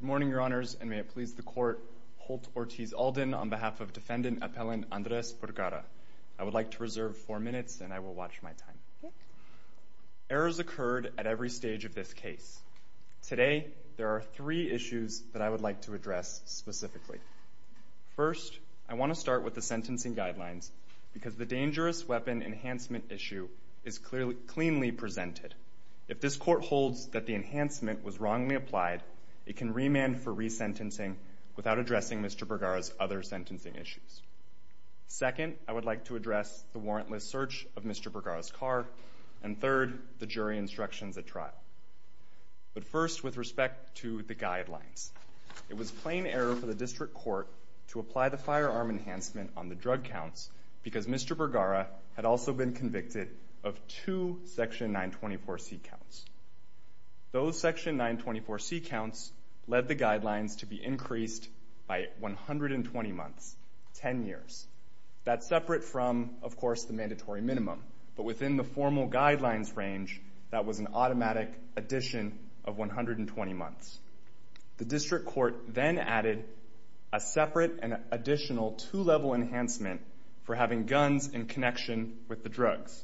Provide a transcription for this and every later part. Good morning, Your Honors, and may it please the Court, Holt Ortiz Alden on behalf of Defendant Appellant Andres Burgara. I would like to reserve four minutes and I will watch my time. Errors occurred at every stage of this case. Today, there are three issues that I would like to address specifically. First, I want to start with the sentencing guidelines because the dangerous weapon enhancement issue is cleanly presented. If this Court holds that the enhancement was wrongly applied, it can remand for resentencing without addressing Mr. Burgara's other sentencing issues. Second, I would like to address the warrantless search of Mr. Burgara's car. And third, the jury instructions at trial. But first, with respect to the guidelines, it was plain error for the District Court to apply the firearm enhancement on the drug counts because Mr. Burgara had also been convicted of two Section 924C counts. Those Section 924C counts led the guidelines to be increased by 120 months, 10 years. That's separate from, of course, the mandatory minimum. But within the formal guidelines range, that was an automatic addition of 120 months. The District Court then added a separate and additional two-level enhancement for having guns in connection with the drugs.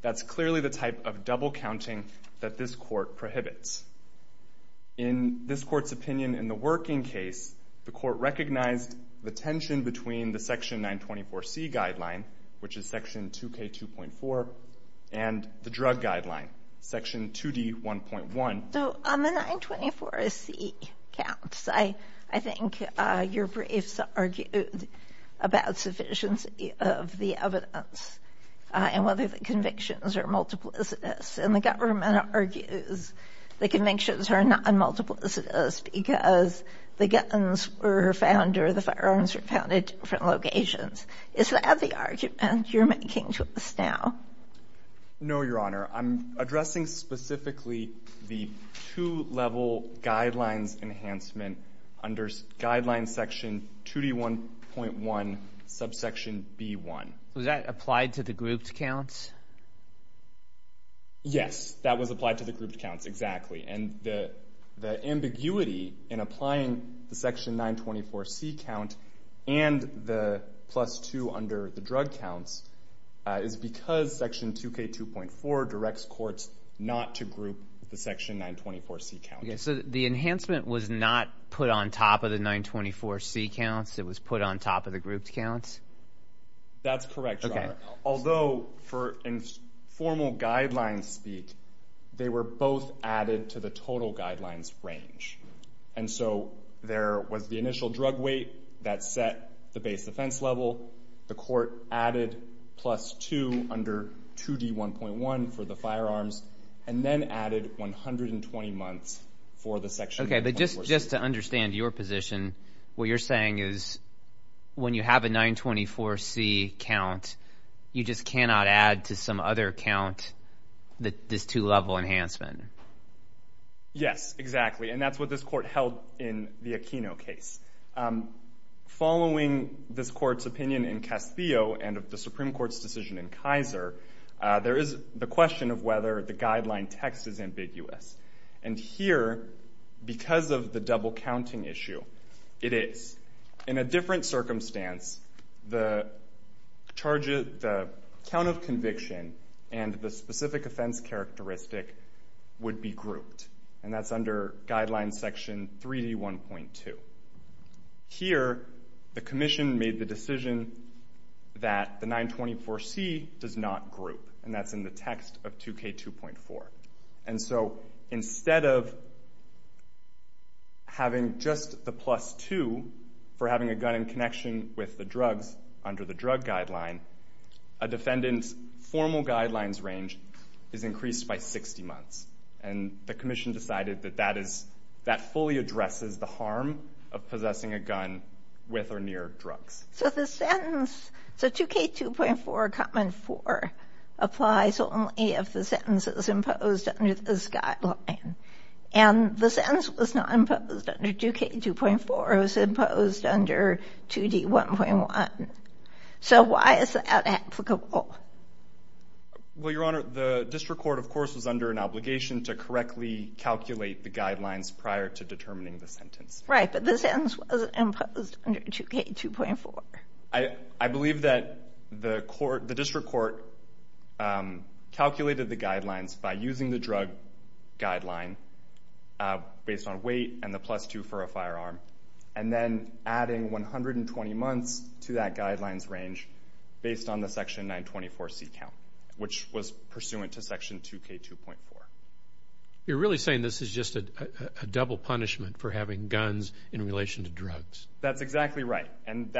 That's clearly the type of double counting that this Court prohibits. In this Court's opinion in the working case, the Court recognized the tension between the Section 924C guideline, which is Section 2K2.4, and the drug guideline, Section 2D1.1. So on the 924C counts, I think your briefs argued about sufficiency of the evidence and whether the convictions are multiplicitous. And the government argues the convictions are non-multiplicitous because the guns were found or the firearms were found at different locations. Is that the argument you're making to us now? No, Your Honor. I'm addressing specifically the two-level guidelines enhancement under Guidelines Section 2D1.1, subsection B1. Was that applied to the grouped counts? Yes, that was applied to the grouped counts, exactly. And the ambiguity in applying the Section 924C count and the plus two under the drug counts is because Section 2K2.4 directs courts not to group the Section 924C count. The enhancement was not put on top of the 924C counts. It was put on top of the grouped counts? That's correct, Your Honor. Although, in formal guidelines speak, they were both added to the total guidelines range. And so, there was the initial drug weight that set the base defense level. The court added plus two under 2D1.1 for the firearms and then added 120 months for the Section 924C. Okay, but just to understand your position, what you're saying is when you have a 924C count, you just cannot add to some other count this two-level enhancement? Yes, exactly. And that's what this court held in the Aquino case. Following this court's opinion in Castillo and of the Supreme Court's decision in Kaiser, there is the question of whether the guideline text is ambiguous. And here, because of the double-counting issue, it is. In a different circumstance, the count of conviction and the specific offense characteristic would be grouped. And that's under Guideline Section 3D1.2. Here, the Commission made the decision that the 924C does not group. And that's in the text of 2K2.4. And so, instead of having just the plus two for having a gun in connection with the drugs under the drug guideline, a defendant's formal guidelines range is increased by 60 months. And the Commission decided that that fully addresses the harm of possessing a gun with or near drugs. So, 2K2.4, comment four applies only if the sentence is imposed under this guideline. And the sentence was not imposed under 2K2.4. It was imposed under 2D1.1. So, why is that applicable? Well, Your Honor, the District Court, of course, was under an obligation to correctly calculate the guidelines prior to determining the sentence. Right, but the sentence was imposed under 2K2.4. I believe that the District Court calculated the guidelines by using the drug guideline based on weight and the plus two for a firearm, and then adding 120 months to that guidelines range based on the Section 924C count, which was pursuant to Section 2K2.4. You're really saying this is just a double punishment for having guns in relation to That's exactly right. And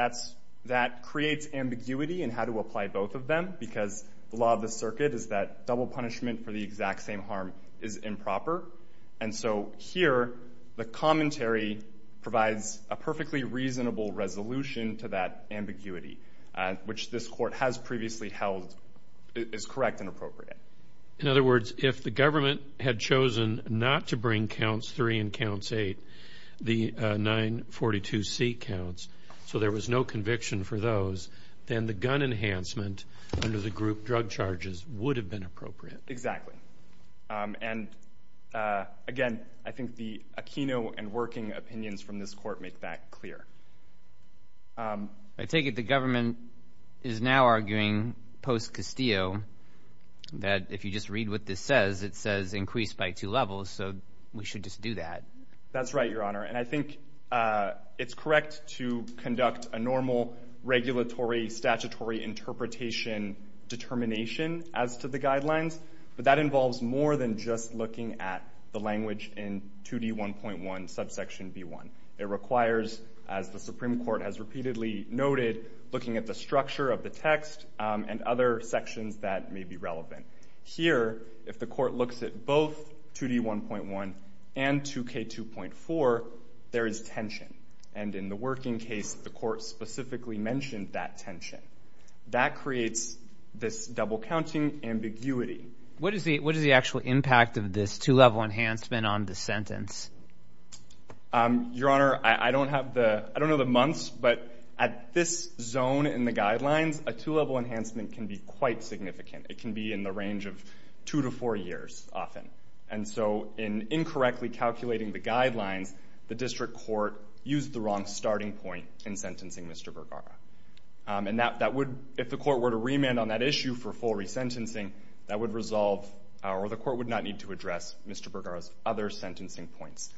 that creates ambiguity in how to apply both of them because the law of the circuit is that double punishment for the exact same harm is improper. And so, here, the commentary provides a perfectly reasonable resolution to that ambiguity, which this Court has previously held is correct and appropriate. In other words, if the government had chosen not to bring counts three and counts eight, the 942C counts, so there was no conviction for those, then the gun enhancement under the group drug charges would have been appropriate. Exactly. And again, I think the a kino and working opinions from this Court make that clear. I take it the government is now arguing post-Castillo that if you just read what this says, it says increased by two levels, so we should just do that. That's right, Your Honor. And I think it's correct to conduct a normal regulatory statutory interpretation determination as to the guidelines, but that involves more than just looking at the language in 2D1.1 subsection B1. It requires, as the Supreme Court has repeatedly noted, looking at the structure of the text and other sections that may be relevant. Here, if the Court looks at both 2D1.1 and 2K2.4, there is tension. And in the working case, the Court specifically mentioned that tension. That creates this double-counting ambiguity. What is the actual impact of this two-level enhancement on the sentence? Your Honor, I don't know the months, but at this zone in the guidelines, a two-level enhancement can be quite significant. It can be in the range of two to four years, often. And so in incorrectly calculating the guidelines, the District Court used the wrong starting point in sentencing Mr. Bergara. And that would, if the Court were to remand on that issue for full resentencing, that would resolve, or the Court would not need to address Mr. Bergara's other sentencing points,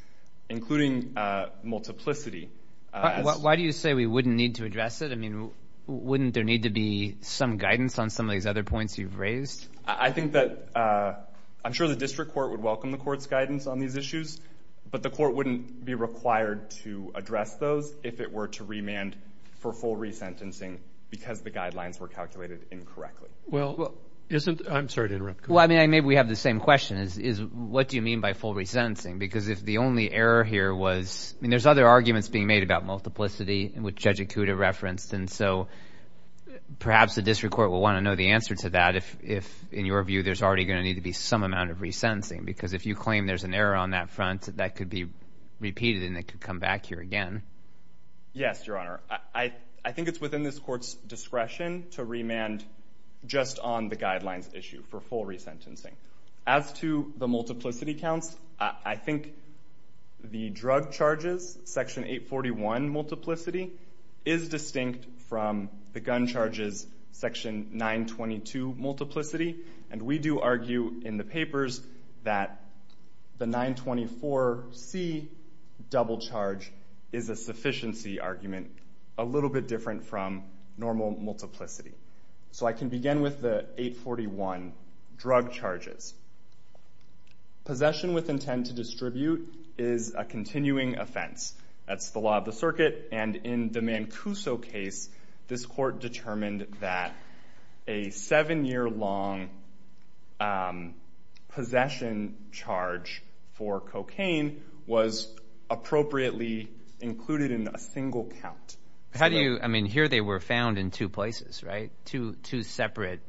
including multiplicity. Why do you say we wouldn't need to address it? I mean, wouldn't there need to be some guidance on some of these other points you've raised? I think that, I'm sure the District Court would welcome the Court's guidance on these issues, but the Court wouldn't be required to address those if it were to remand for full resentencing because the guidelines were calculated incorrectly. Well, isn't, I'm sorry to interrupt. Well, I mean, maybe we have the same question, is what do you mean by full resentencing? Because if the only error here was, I mean, there's other arguments being made about multiplicity, which Judge Ikuda referenced, and so perhaps the District Court will want to know the answer to that if, in your view, there's already going to need to be some amount of resentencing. Because if you claim there's an error on that front, that could be repeated and it could come back here again. Yes, Your Honor. I think it's within this Court's discretion to remand just on the guidelines issue for full resentencing. As to the multiplicity counts, I think the drug charges, Section 841 multiplicity, is distinct from the gun charges, Section 922 multiplicity, and we do argue in the papers that the 924C double charge is a sufficiency argument, a little bit different from normal multiplicity. So I can begin with the 841 drug charges. Possession with intent to distribute is a continuing offense. That's the law of the circuit. And in the Mancuso case, this Court determined that a seven-year-long possession charge for cocaine was appropriately included in a single count. How do you, I mean, here they were found in two places, right? Two separate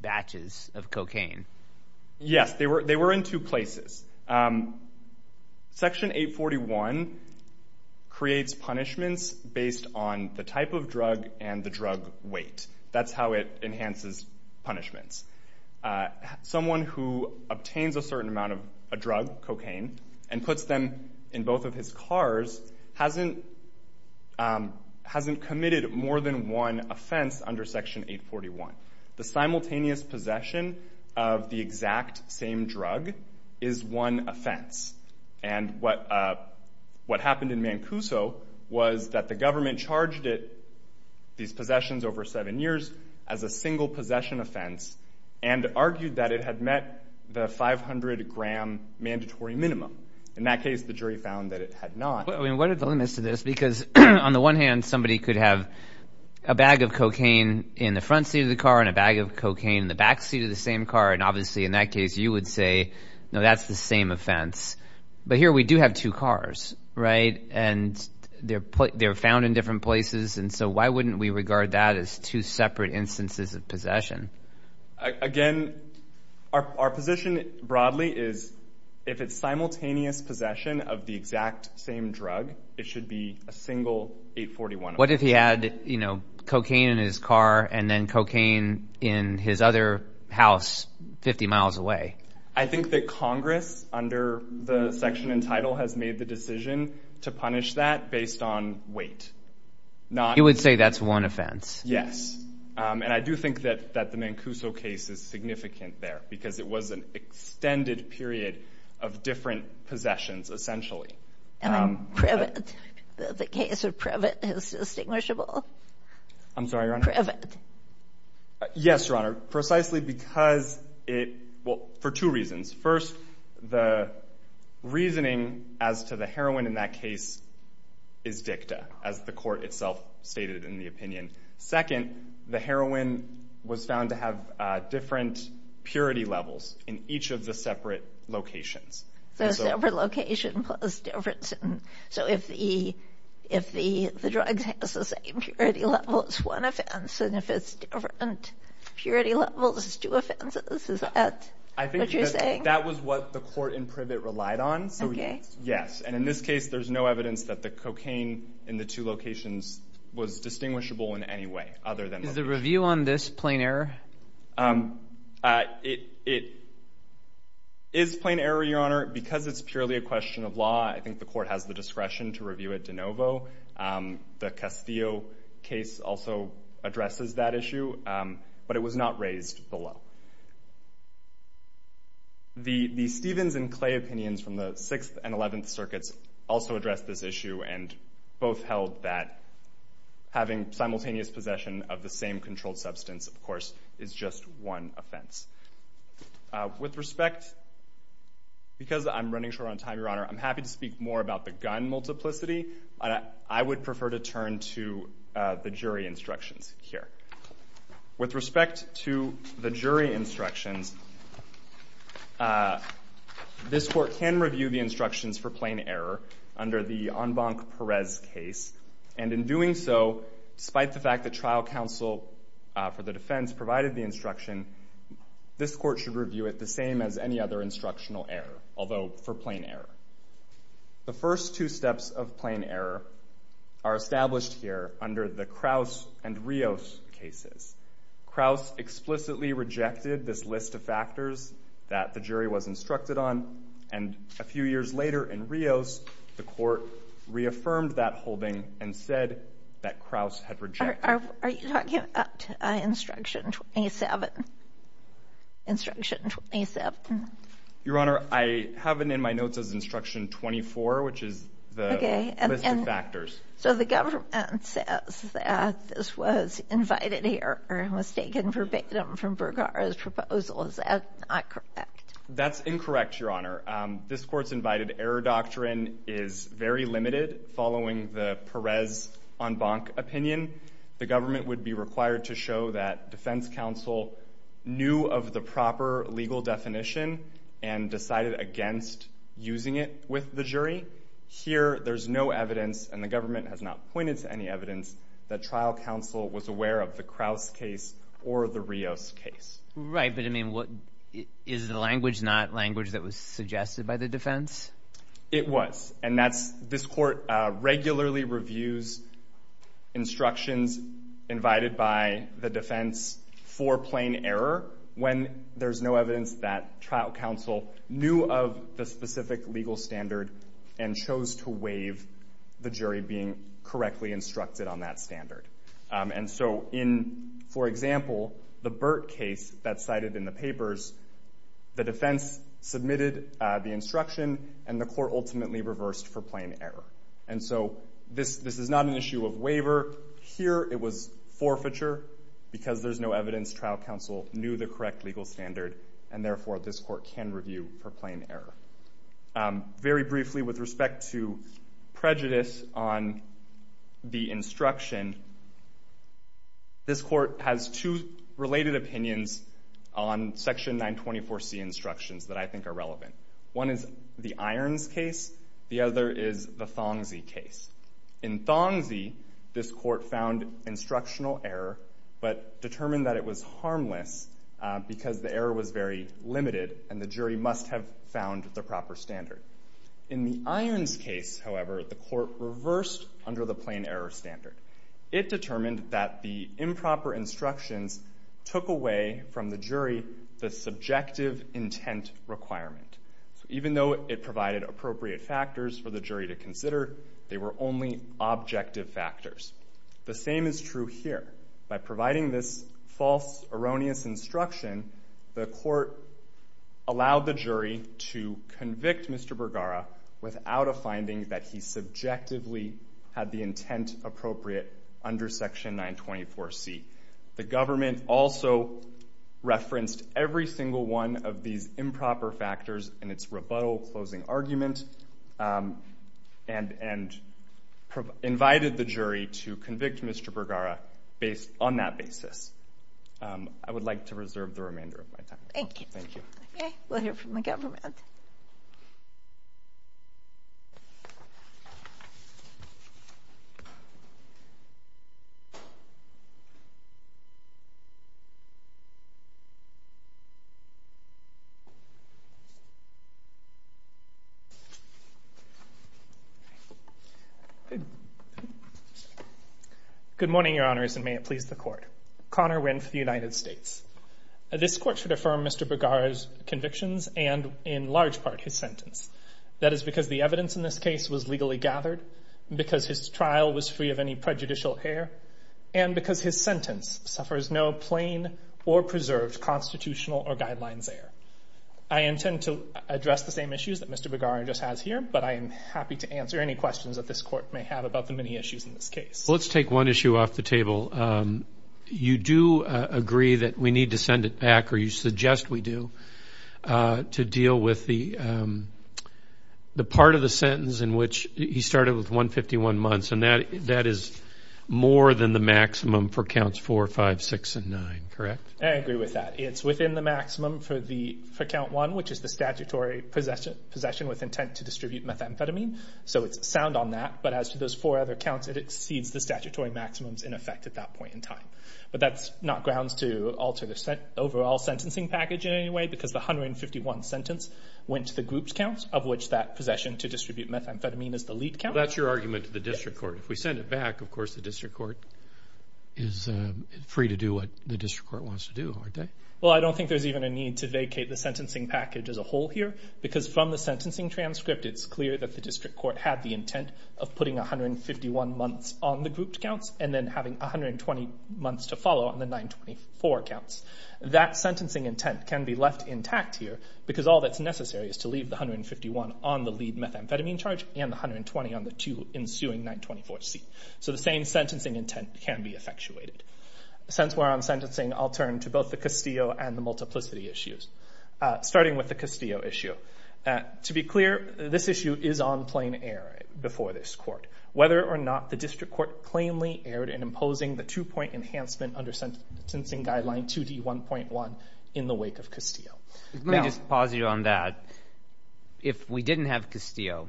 batches of cocaine. Yes, they were in two places. Section 841 creates punishments based on the type of drug and the drug weight. That's how it enhances punishments. Someone who obtains a certain amount of a drug, cocaine, and puts them in both of his cars hasn't committed more than one offense under Section 841. The simultaneous possession of the exact same drug is one offense. And what happened in Mancuso was that the government charged it, these possessions over seven years, as a single possession offense and argued that it had met the 500-gram mandatory minimum. In that case, the jury found that it had not. Well, I mean, what are the limits to this? Because on the one hand, somebody could have a bag of cocaine in the front seat of the car and a bag of cocaine in the back seat of the same car, and obviously in that case you would say, no, that's the same offense. But here we do have two cars, right? And they're found in different places, and so why wouldn't we regard that as two separate instances of possession? Again, our position broadly is if it's simultaneous possession of the exact same drug, it should be a single 841 offense. What if he had, you know, cocaine in his car and then cocaine in his other house 50 miles away? I think that Congress, under the section and title, has made the decision to punish that based on weight. You would say that's one offense? Yes. And I do think that the Mancuso case is significant there because it was an extended period of different possessions, essentially. And Previtt, the case of Previtt, is it distinguishable? I'm sorry, Your Honor? Previtt. Yes, Your Honor. Precisely because it, well, for two reasons. First, the reasoning as to the heroin in that case is dicta, as the court itself stated in the opinion. Second, the heroin was found to have different purity levels in each of the separate locations. So, separate location plus different, so if the drug has the same purity level, it's one offense. And if it's different purity levels, it's two offenses? Is that what you're saying? That was what the court in Previtt relied on. So, yes. And in this case, there's no evidence that the cocaine in the two locations was distinguishable in any way other than location. Is the review on this plain error? It is plain error, Your Honor, because it's purely a question of law. I think the court has the discretion to review it de novo. The Castillo case also addresses that issue, but it was not raised below. The Stevens and Clay opinions from the 6th and 11th Circuits also address this issue and both held that having simultaneous possession of the same controlled substance, of course, is just one offense. With respect, because I'm running short on time, Your Honor, I'm happy to speak more about the gun multiplicity, but I would prefer to turn to the jury instructions here. With respect to the jury instructions, this court can review the instructions for plain error under the Enbanque-Perez case, and in doing so, despite the fact that trial counsel for the defense provided the instruction, this court should review it the same as any other instructional error, although for plain error. The first two steps of plain error are established here under the Kraus and Rios cases. Kraus explicitly rejected this list of factors that the jury was instructed on, and a few years later in Rios, the court reaffirmed that holding and said that Kraus had rejected. Are you talking about instruction 27? Instruction 27. Your Honor, I have it in my notes as instruction 24, which is the list of factors. So the government says that this was invited here or it was taken verbatim from Bergara's proposal. Is that not correct? That's incorrect, Your Honor. This court's invited error doctrine is very limited following the Perez-Enbanque opinion. The government would be required to show that defense counsel knew of the proper legal definition and decided against using it with the jury. Here there's no evidence, and the government has not pointed to any evidence, that trial counsel was aware of the Kraus case or the Rios case. Right. But, I mean, is the language not language that was suggested by the defense? It was. And this court regularly reviews instructions invited by the defense for plain error when there's no evidence that trial counsel knew of the specific legal standard and chose to waive the jury being correctly instructed on that standard. And so in, for example, the Burt case that's cited in the papers, the defense submitted the instruction and the court ultimately reversed for plain error. And so this is not an issue of waiver. Here it was forfeiture because there's no evidence trial counsel knew the correct legal standard and therefore this court can review for plain error. Very briefly, with respect to prejudice on the instruction, this court has two related opinions on Section 924C instructions that I think are relevant. One is the Irons case, the other is the Thongzhi case. In Thongzhi, this court found instructional error but determined that it was harmless because the error was very limited and the jury must have found the proper standard. In the Irons case, however, the court reversed under the plain error standard. It determined that the improper instructions took away from the jury the subjective intent requirement. So even though it provided appropriate factors for the jury to consider, they were only objective factors. The same is true here. By providing this false, erroneous instruction, the court allowed the jury to convict Mr. Bergara without a finding that he subjectively had the intent appropriate under Section 924C. The government also referenced every single one of these improper factors in its rebuttal closing argument and invited the jury to convict Mr. Bergara on that basis. I would like to reserve the remainder of my time. Thank you. Thank you. Okay. We'll hear from the government. Good morning, Your Honors, and may it please the Court. Connor Wynne for the United States. This court should affirm Mr. Bergara's convictions and, in large part, his sentence. That is because the evidence in this case was legally gathered, because his trial was free of any prejudicial error, and because his sentence suffers no plain or preserved constitutional or guidelines error. I intend to address the same issues that Mr. Bergara just has here, but I am happy to answer any questions that this court may have about the many issues in this case. Let's take one issue off the table. You do agree that we need to send it back, or you suggest we do, to deal with the part of the sentence in which he started with 151 months, and that is more than the maximum for counts 4, 5, 6, and 9, correct? I agree with that. It's within the maximum for count 1, which is the statutory possession with intent to distribute methamphetamine, so it's sound on that, but as to those four other counts, it exceeds the statutory maximums in effect at that point in time, but that's not grounds to alter the overall sentencing package in any way, because the 151 sentence went to the groups count, of which that possession to distribute methamphetamine is the lead count. That's your argument to the district court. If we send it back, of course, the district court is free to do what the district court wants to do, aren't they? Well, I don't think there's even a need to vacate the sentencing package as a whole here, because from the sentencing transcript, it's clear that the district court had the intent of putting 151 months on the grouped counts, and then having 120 months to follow on the 924 counts. That sentencing intent can be left intact here, because all that's necessary is to leave the 151 on the lead methamphetamine charge, and the 120 on the two ensuing 924s. So the same sentencing intent can be effectuated. Since we're on sentencing, I'll turn to both the Castillo and the multiplicity issues. Starting with the Castillo issue. To be clear, this issue is on plain error before this court. Whether or not the district court plainly erred in imposing the two-point enhancement under sentencing guideline 2D1.1 in the wake of Castillo. Now- Let me just pause you on that. If we didn't have Castillo,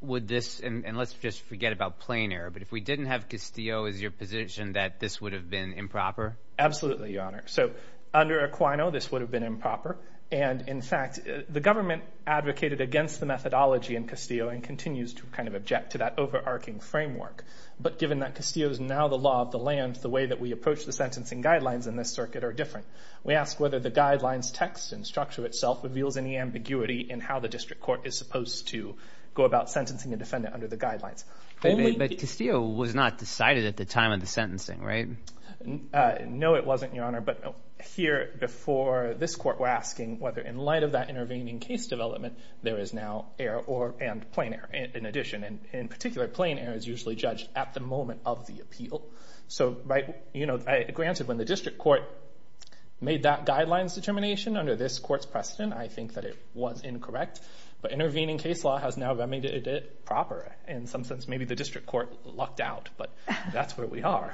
would this, and let's just forget about plain error, but if we didn't have Castillo, is your position that this would have been improper? Absolutely, Your Honor. So under Aquino, this would have been improper, and in fact, the government advocated against the methodology in Castillo, and continues to kind of object to that overarching framework. But given that Castillo is now the law of the land, the way that we approach the sentencing guidelines in this circuit are different. We ask whether the guidelines text and structure itself reveals any ambiguity in how the district court is supposed to go about sentencing a defendant under the guidelines. But Castillo was not decided at the time of the sentencing, right? No, it wasn't, Your Honor, but here before this court, we're asking whether in light of that intervening case development, there is now error and plain error in addition. In particular, plain error is usually judged at the moment of the appeal. So granted, when the district court made that guidelines determination under this court's precedent, I think that it was incorrect. But intervening case law has now remediated it proper. In some sense, maybe the district court lucked out, but that's where we are.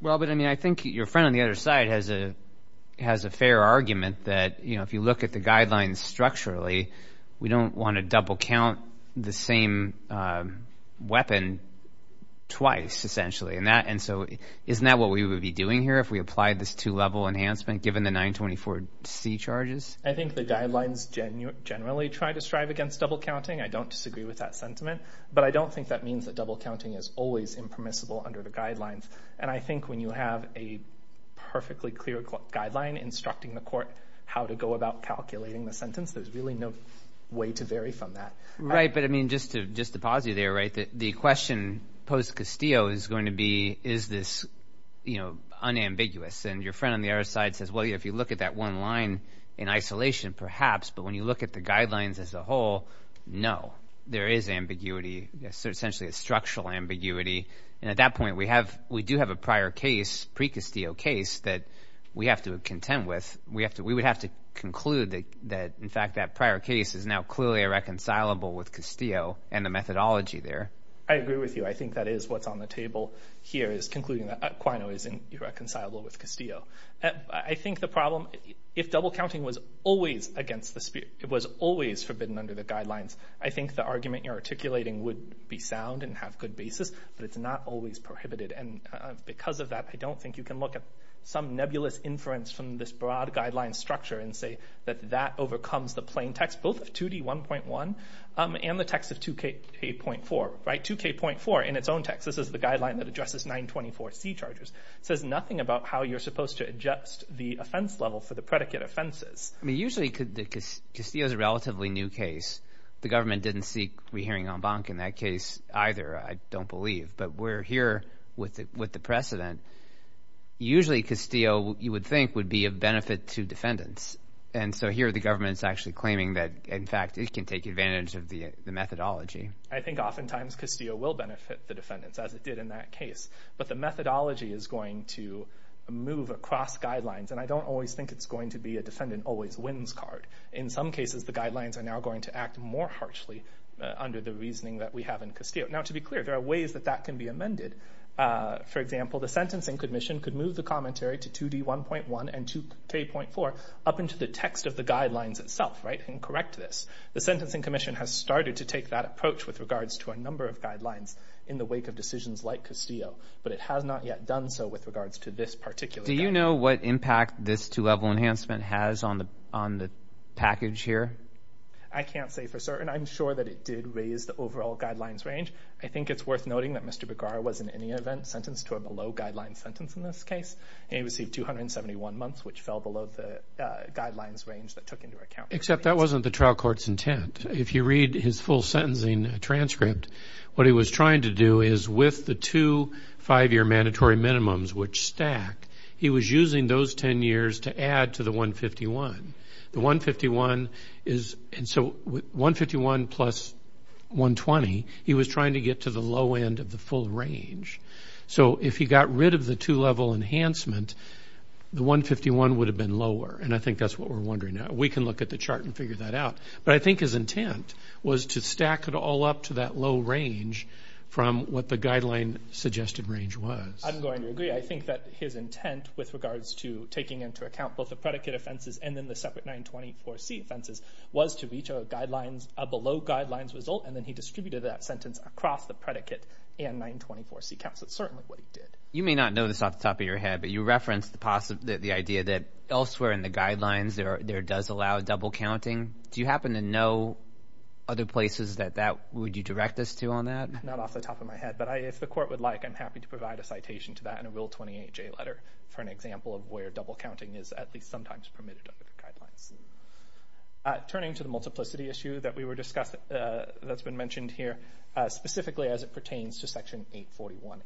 Well, but I mean, I think your friend on the other side has a fair argument that, you know, if you look at the guidelines structurally, we don't want to double count the same weapon twice essentially. And so isn't that what we would be doing here if we applied this two-level enhancement given the 924C charges? I think the guidelines generally try to strive against double counting. I don't disagree with that sentiment, but I don't think that means that double counting is always impermissible under the guidelines. And I think when you have a perfectly clear guideline instructing the court how to go about calculating the sentence, there's really no way to vary from that. Right, but I mean, just to pause you there, right, the question posed to Castillo is going to be, is this, you know, unambiguous? And your friend on the other side says, well, yeah, if you look at that one line in isolation perhaps, but when you look at the guidelines as a whole, no, there is ambiguity, essentially a structural ambiguity. And at that point, we have, we do have a prior case, pre-Castillo case that we have to contend with. We have to, we would have to conclude that, in fact, that prior case is now clearly irreconcilable with Castillo and the methodology there. I agree with you. I think that is what's on the table here is concluding that Aquino isn't irreconcilable with Castillo. I think the problem, if double counting was always against the, it was always forbidden under the guidelines, I think the argument you're articulating would be sound and have good basis, but it's not always prohibited. And because of that, I don't think you can look at some nebulous inference from this broad guideline structure and say that that overcomes the plain text, both of 2D1.1 and the text of 2K.4, right, 2K.4 in its own text, this is the guideline that addresses 924C charges, says nothing about how you're supposed to adjust the offense level for the predicate offenses. I mean, usually Castillo is a relatively new case. The government didn't seek rehearing en banc in that case either, I don't believe. But we're here with the precedent. Usually Castillo, you would think, would be of benefit to defendants. And so here the government's actually claiming that, in fact, it can take advantage of the methodology. I think oftentimes Castillo will benefit the defendants, as it did in that case. But the methodology is going to move across guidelines, and I don't always think it's going to be a defendant always wins card. In some cases, the guidelines are now going to act more harshly under the reasoning that we have in Castillo. Now, to be clear, there are ways that that can be amended. For example, the Sentencing Commission could move the commentary to 2D1.1 and 2K.4 up into the text of the guidelines itself, right, and correct this. The Sentencing Commission has started to take that approach with regards to a number of guidelines in the wake of decisions like Castillo. But it has not yet done so with regards to this particular case. Do you know what impact this two-level enhancement has on the package here? I can't say for certain. I'm sure that it did raise the overall guidelines range. I think it's worth noting that Mr. Begar was, in any event, sentenced to a below-guidelines sentence in this case, and he received 271 months, which fell below the guidelines range that took into account. Except that wasn't the trial court's intent. If you read his full sentencing transcript, what he was trying to do is with the two five-year mandatory minimums, which stack, he was using those 10 years to add to the 151. The 151 is, and so 151 plus 120, he was trying to get to the low end of the full range. So if he got rid of the two-level enhancement, the 151 would have been lower. And I think that's what we're wondering now. We can look at the chart and figure that out. But I think his intent was to stack it all up to that low range from what the guideline suggested range was. I'm going to agree. I think that his intent with regards to taking into account both the predicate offenses and then the separate 924C offenses was to reach a below-guidelines result, and then he distributed that sentence across the predicate and 924C counts. That's certainly what he did. You may not know this off the top of your head, but you referenced the idea that elsewhere in the guidelines there does allow double counting. Do you happen to know other places that that would you direct us to on that? Not off the top of my head, but if the court would like, I'm happy to provide a citation to that in a Rule 28J letter for an example of where double counting is at least sometimes permitted under the guidelines. Turning to the multiplicity issue that we were discussing, that's been mentioned here specifically as it pertains to Section 841A1.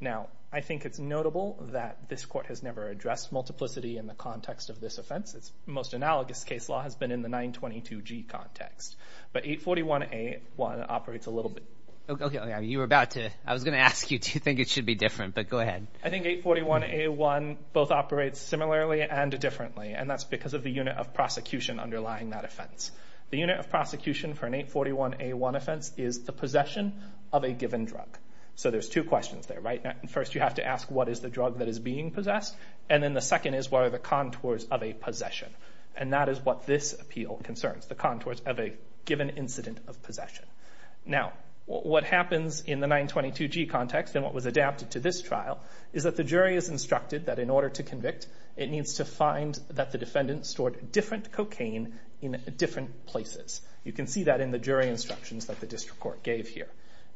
Now I think it's notable that this court has never addressed multiplicity in the context of this offense. It's most analogous case law has been in the 922G context, but 841A1 operates a little bit. You were about to. I was going to ask you, do you think it should be different? But go ahead. I think 841A1 both operates similarly and differently, and that's because of the unit of prosecution underlying that offense. The unit of prosecution for an 841A1 offense is the possession of a given drug. So there's two questions there, right? First you have to ask what is the drug that is being possessed, and then the second is what are the contours of a possession, and that is what this appeal concerns, the contours of a given incident of possession. Now what happens in the 922G context and what was adapted to this trial is that the jury is instructed that in order to convict, it needs to find that the defendant stored different cocaine in different places. You can see that in the jury instructions that the district court gave here.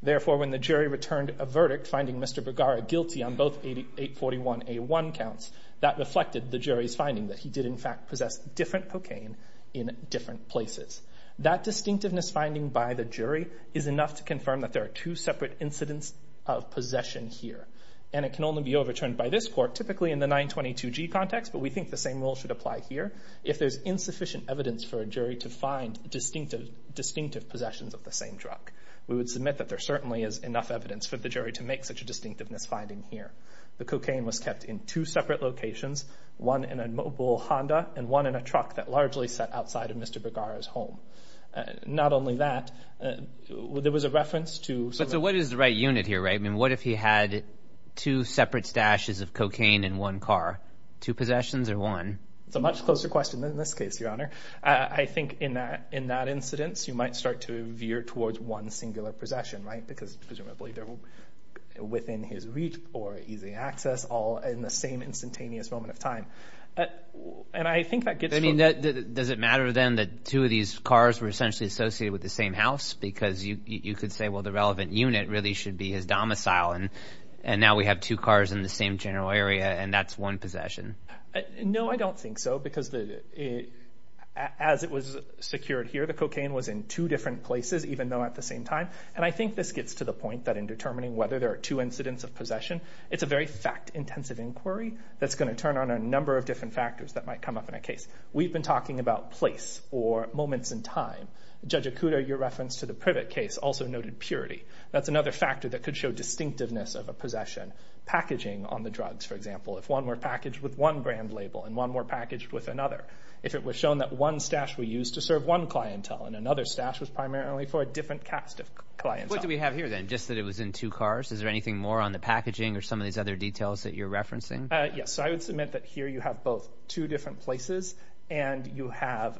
Therefore when the jury returned a verdict finding Mr. Bergara guilty on both 841A1 counts, that reflected the jury's finding that he did in fact possess different cocaine in different places. That distinctiveness finding by the jury is enough to confirm that there are two separate incidents of possession here, and it can only be overturned by this court, typically in the 922G context, but we think the same rule should apply here. If there's insufficient evidence for a jury to find distinctive possessions of the same drug, we would submit that there certainly is enough evidence for the jury to make such a distinctiveness finding here. The cocaine was kept in two separate locations, one in a mobile Honda and one in a truck that largely sat outside of Mr. Bergara's home. Not only that, there was a reference to... So what is the right unit here, right? I mean, what if he had two separate stashes of cocaine in one car? Two possessions or one? It's a much closer question than this case, Your Honor. I think in that incident, you might start to veer towards one singular possession, right? Because presumably they're within his reach or easy access, all in the same instantaneous moment of time. And I think that gets... I mean, does it matter then that two of these cars were essentially associated with the same house? Because you could say, well, the relevant unit really should be his domicile, and now we have two cars in the same general area, and that's one possession. No, I don't think so, because as it was secured here, the cocaine was in two different places, even though at the same time. And I think this gets to the point that in determining whether there are two incidents of possession, it's a very fact-intensive inquiry that's going to turn on a number of different factors that might come up in a case. We've been talking about place or moments in time. Judge Okuda, your reference to the Privet case also noted purity. That's another factor that could show distinctiveness of a possession. Packaging on the drugs, for example, if one were packaged with one brand label and one were packaged with another. If it was shown that one stash were used to serve one clientele and another stash was primarily for a different cast of clients. What do we have here then? Just that it was in two cars? Is there anything more on the packaging or some of these other details that you're referencing? Yes. I would submit that here you have both two different places, and you have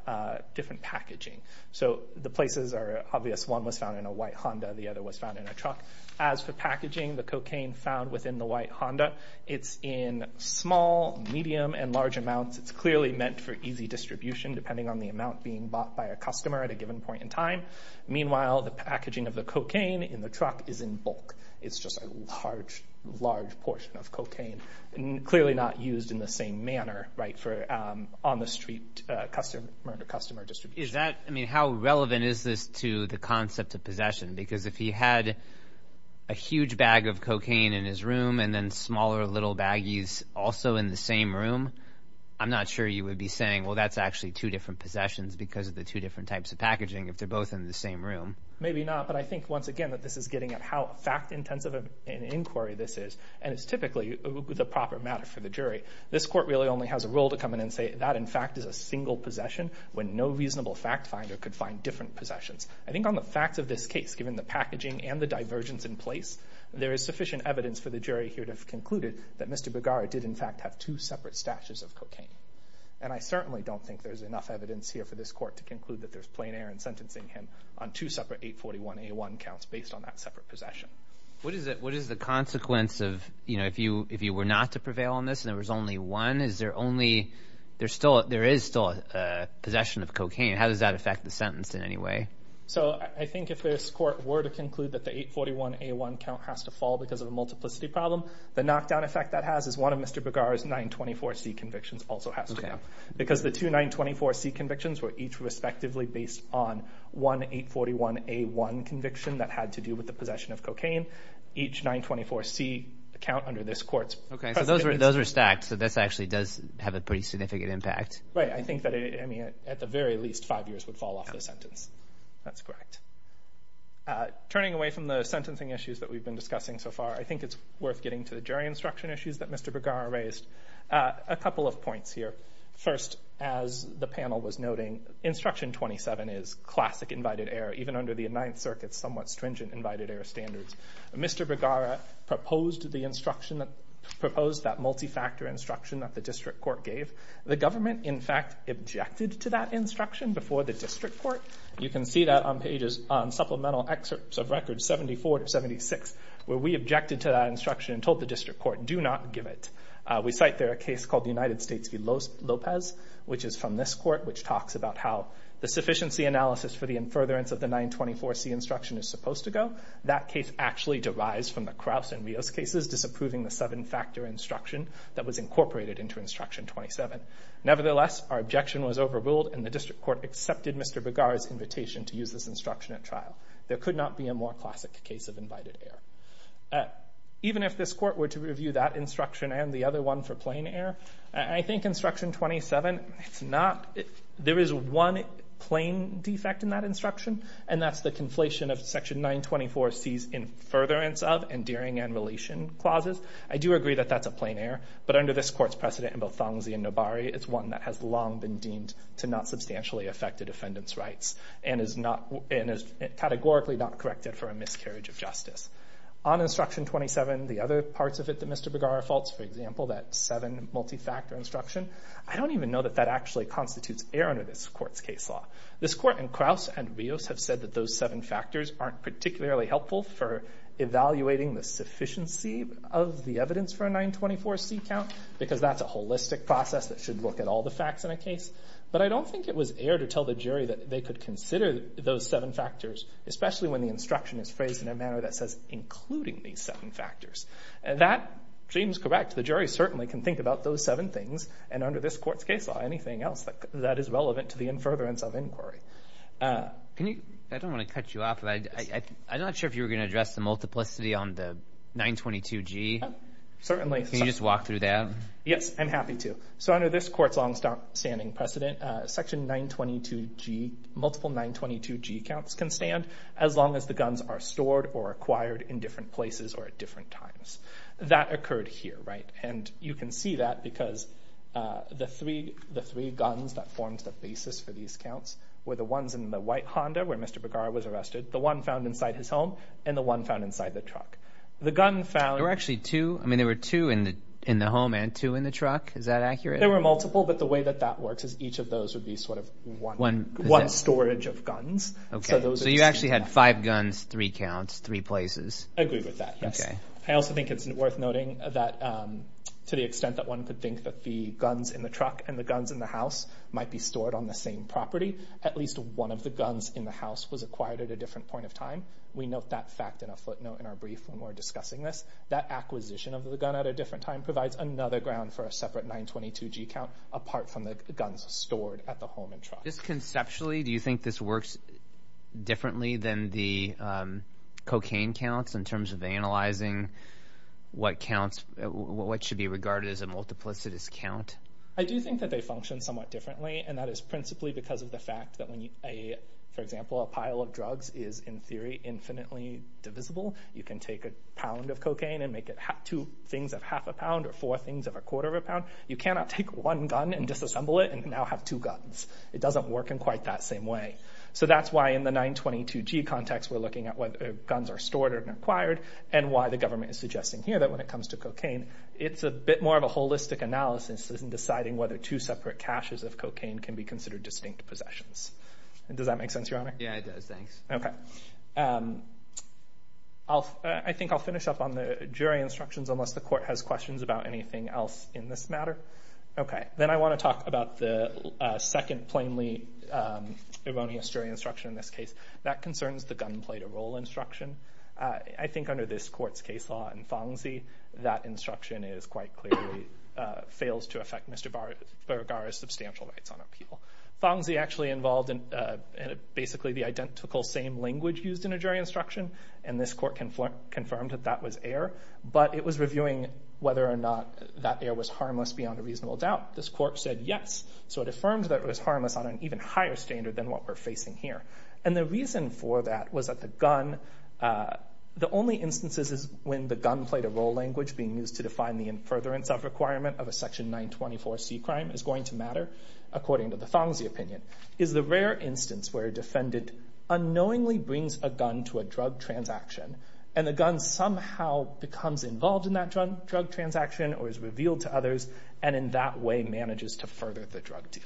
different packaging. So the places are obvious. One was found in a white Honda, the other was found in a truck. As for packaging, the cocaine found within the white Honda, it's in small, medium, and large amounts. It's clearly meant for easy distribution depending on the amount being bought by a customer at a given point in time. Meanwhile, the packaging of the cocaine in the truck is in bulk. It's just a large, large portion of cocaine. Clearly not used in the same manner, right, for on-the-street customer-to-customer distribution. Is that, I mean, how relevant is this to the concept of possession? Because if he had a huge bag of cocaine in his room and then smaller little baggies also in the same room, I'm not sure you would be saying, well, that's actually two different possessions because of the two different types of packaging if they're both in the same room. Maybe not, but I think, once again, that this is getting at how fact-intensive an inquiry this is. And it's typically the proper matter for the jury. This Court really only has a role to come in and say that, in fact, is a single possession when no reasonable fact-finder could find different possessions. I think on the facts of this case, given the packaging and the divergence in place, there is sufficient evidence for the jury here to have concluded that Mr. Bergara did, in fact, have two separate stashes of cocaine. And I certainly don't think there's enough evidence here for this Court to conclude that there's plain error in sentencing him on two separate 841A1 counts based on that separate possession. What is the consequence of, you know, if you were not to prevail on this and there was only one, is there only, there is still a possession of cocaine. How does that affect the sentence in any way? So I think if this Court were to conclude that the 841A1 count has to fall because of a multiplicity problem, the knockdown effect that has is one of Mr. Bergara's 924C convictions also has to come. Okay. Because the two 924C convictions were each respectively based on one 841A1 conviction that had to do with the possession of cocaine. Each 924C count under this Court's presidency... Okay. So those were stacked. So this actually does have a pretty significant impact. Right. I think that it, I mean, at the very least, five years would fall off the sentence. That's correct. Turning away from the sentencing issues that we've been discussing so far, I think it's worth getting to the jury instruction issues that Mr. Bergara raised. A couple of points here. First, as the panel was noting, Instruction 27 is classic invited error, even under the Ninth Circuit's somewhat stringent invited error standards. Mr. Bergara proposed the instruction, proposed that multi-factor instruction that the District Court gave. The government, in fact, objected to that instruction before the District Court. You can see that on pages, on supplemental excerpts of records 74 to 76, where we objected to that instruction and told the District Court, do not give it. We cite there a case called the United States v. Lopez, which is from this court, which talks about how the sufficiency analysis for the infuriance of the 924C instruction is supposed to go. That case actually derives from the Krause and Rios cases disapproving the seven-factor instruction that was incorporated into Instruction 27. Nevertheless, our objection was overruled, and the District Court accepted Mr. Bergara's invitation to use this instruction at trial. There could not be a more classic case of invited error. Even if this court were to review that instruction and the other one for plain error, I think Instruction 27, it's not, there is one plain defect in that instruction, and that's the conflation of Section 924C's infuriance of and dearing and relation clauses. I do agree that that's a plain error, but under this court's precedent in both Fongsi and Nobari, it's one that has long been deemed to not substantially affect a defendant's rights, and is categorically not corrected for a miscarriage of justice. On Instruction 27, the other parts of it that Mr. Bergara faults, for example, that seven multi-factor instruction, I don't even know that that actually constitutes error under this court's case law. This court and Krause and Rios have said that those seven factors aren't particularly helpful for evaluating the sufficiency of the evidence for a 924C count, because that's a holistic process that should look at all the facts in a case. But I don't think it was air to tell the jury that they could consider those seven factors, especially when the instruction is phrased in a manner that says, including these seven factors. That seems correct. The jury certainly can think about those seven things, and under this court's case law, anything else that is relevant to the infuriance of inquiry. I don't want to cut you off, but I'm not sure if you were going to address the multiplicity on the 922G. Certainly. Can you just walk through that? Yes, I'm happy to. So under this court's long-standing precedent, section 922G, multiple 922G counts can stand as long as the guns are stored or acquired in different places or at different times. That occurred here, right? And you can see that because the three guns that formed the basis for these counts were the ones in the white Honda where Mr. Bergara was arrested, the one found inside his home, and the one found inside the truck. The gun found... There were actually two. I mean, there were two in the home and two in the truck. Is that accurate? There were multiple, but the way that that works is each of those would be sort of one storage of guns. Okay. So you actually had five guns, three counts, three places. I agree with that, yes. Okay. I also think it's worth noting that to the extent that one could think that the guns in the truck and the guns in the house might be stored on the same property, at least one of the guns in the house was acquired at a different point of time. We note that fact in a footnote in our brief when we're discussing this. That acquisition of the gun at a different time provides another ground for a separate 922G count apart from the guns stored at the home and truck. Just conceptually, do you think this works differently than the cocaine counts in terms of analyzing what should be regarded as a multiplicitous count? I do think that they function somewhat differently, and that is principally because of the fact that when, for example, a pile of drugs is, in theory, infinitely divisible, you can take a pound of cocaine and make it two things of half a pound or four things of a quarter of a pound. You cannot take one gun and disassemble it and now have two guns. It doesn't work in quite that same way. So that's why in the 922G context, we're looking at whether guns are stored or acquired and why the government is suggesting here that when it comes to cocaine, it's a bit more of a holistic analysis in deciding whether two separate caches of cocaine can be considered distinct possessions. Does that make sense, Your Honor? Yeah, it does. Thanks. Okay. I think I'll finish up on the jury instructions unless the court has questions about anything else in this matter. Okay. Then I want to talk about the second plainly erroneous jury instruction in this case. That concerns the gunplay to role instruction. I think under this court's case law in Fongsy, that instruction quite clearly fails to affect Mr. Baragara's substantial rights on appeal. Fongsy actually involved basically the identical same language used in a jury instruction, and this court confirmed that that was error, but it was reviewing whether or not that error was harmless beyond a reasonable doubt. This court said yes. So it affirms that it was harmless on an even higher standard than what we're facing here. The reason for that was that the gun, the only instances when the gunplay to role language being used to define the in furtherance of requirement of a section 924C crime is going to matter, according to the Fongsy opinion, is the rare instance where a defendant unknowingly brings a gun to a drug transaction, and the gun somehow becomes involved in that drug transaction or is revealed to others, and in that way manages to further the drug deal.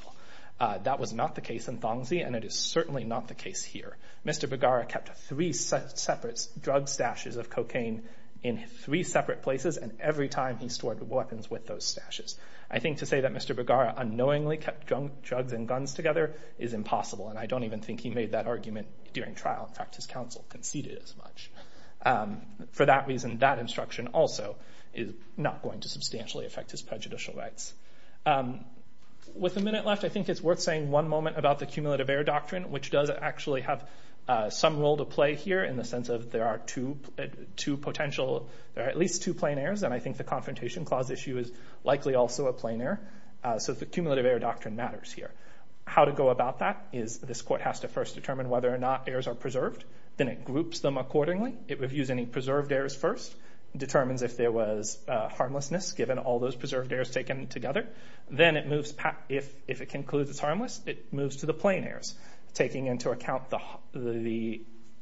That was not the case in Fongsy, and it is certainly not the case here. Mr. Baragara kept three separate drug stashes of cocaine in three separate places, and every time he stored weapons with those stashes. I think to say that Mr. Baragara unknowingly kept drugs and guns together is impossible, and I don't even think he made that argument during trial. In fact, his counsel conceded as much. For that reason, that instruction also is not going to substantially affect his prejudicial rights. With a minute left, I think it's worth saying one moment about the cumulative error doctrine, which does actually have some role to play here in the sense of there are two potential, there are at least two plain errors, and I think the confrontation clause issue is likely also a plain error, so the cumulative error doctrine matters here. How to go about that is this court has to first determine whether or not errors are Then it groups them accordingly. It reviews any preserved errors first, determines if there was harmlessness given all those preserved errors taken together. Then if it concludes it's harmless, it moves to the plain errors, taking into account the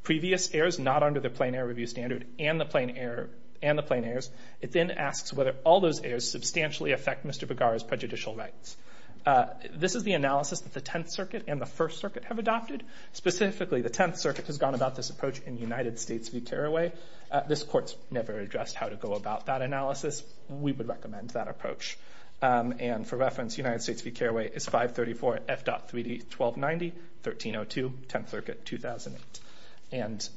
previous errors not under the plain error review standard and the plain errors. It then asks whether all those errors substantially affect Mr. Bergara's prejudicial rights. This is the analysis that the Tenth Circuit and the First Circuit have adopted. Specifically, the Tenth Circuit has gone about this approach in United States v. Carraway. This court's never addressed how to go about that analysis. We would recommend that approach. For reference, United States v. Carraway is 534 F.31290, 1302, Tenth Circuit, 2008. And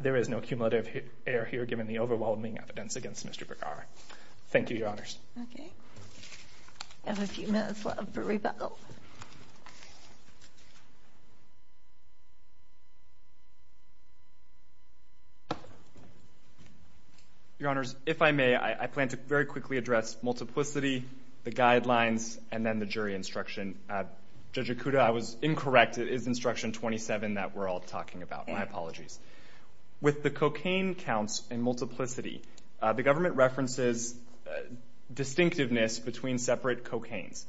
there is no cumulative error here given the overwhelming evidence against Mr. Bergara. Thank you, Your Honors. Okay. I have a few minutes left for rebuttal. Your Honors, if I may, I plan to very quickly address multiplicity, the guidelines, and then the jury instruction. Judge Ikuda, I was incorrect. It is Instruction 27 that we're all talking about. My apologies. With the cocaine counts and multiplicity, the government references distinctiveness between separate cocaines.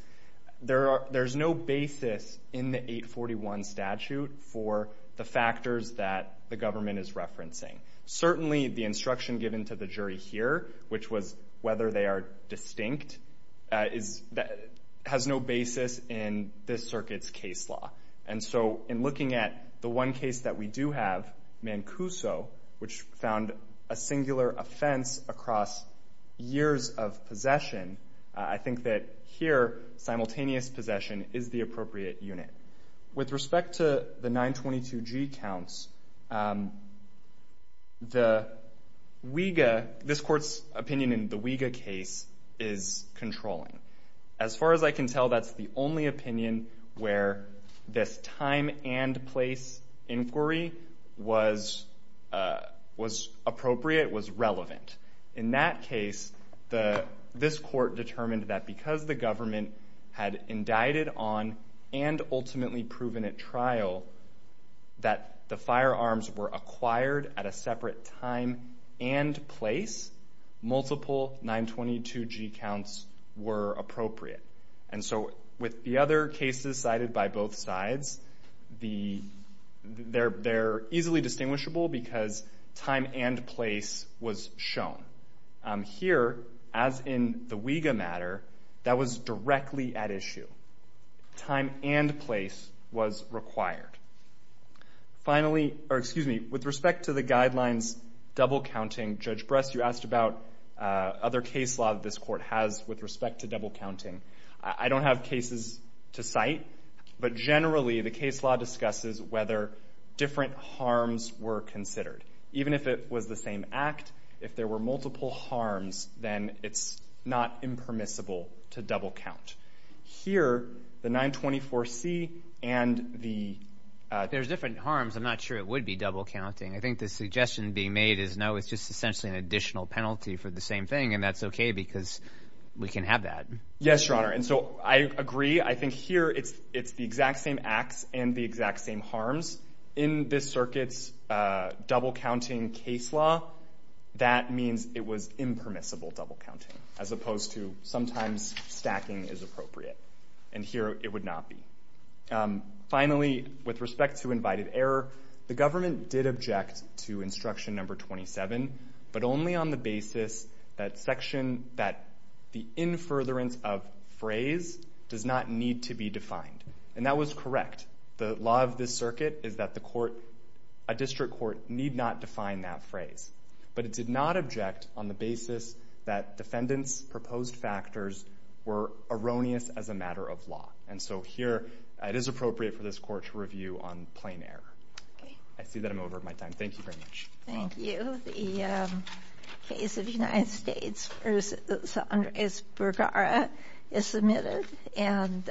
There's no basis in the 841 statute for the factors that the government is referencing. Certainly, the instruction given to the jury here, which was whether they are distinct, has no basis in this circuit's case law. And so, in looking at the one case that we do have, Mancuso, which found a singular offense across years of possession, I think that here, simultaneous possession is the appropriate unit. With respect to the 922G counts, this Court's opinion in the Wega case is controlling. As far as I can tell, that's the only opinion where this time and place inquiry was appropriate, was relevant. In that case, this Court determined that because the government had indicted on and ultimately proven at trial that the firearms were acquired at a separate time and place, multiple 922G counts were appropriate. And so, with the other cases cited by both sides, they're easily distinguishable because time and place was shown. Here, as in the Wega matter, that was directly at issue. Time and place was required. Finally, or excuse me, with respect to the guidelines double-counting, Judge Bress, you asked about other case law that this Court has with respect to double-counting. I don't have cases to cite, but generally, the case law discusses whether different harms were considered. Even if it was the same act, if there were multiple harms, then it's not impermissible to double-count. Here, the 924C and the... There's different harms. I'm not sure it would be double-counting. I think the suggestion being made is no, it's just essentially an additional penalty for the same thing, and that's okay because we can have that. Yes, Your Honor. And so, I agree. I think here, it's the exact same acts and the exact same harms. In this circuit's double-counting case law, that means it was impermissible double-counting, as opposed to sometimes stacking is appropriate. And here, it would not be. Finally, with respect to invited error, the government did object to Instruction No. 27, but only on the basis that the in-furtherance of phrase does not need to be defined. And that was correct. The law of this circuit is that a district court need not define that phrase, but it did not object on the basis that defendants' proposed factors were erroneous as a matter of law. And so, here, it is appropriate for this court to review on plain error. I see that I'm over my time. Thank you very much. Thank you. The case of the United States v. Andres Bergara is submitted and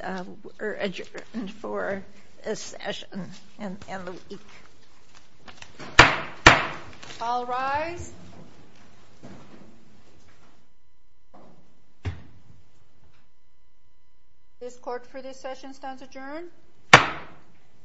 adjourned for this session and the week. All rise. This court for this session stands adjourned.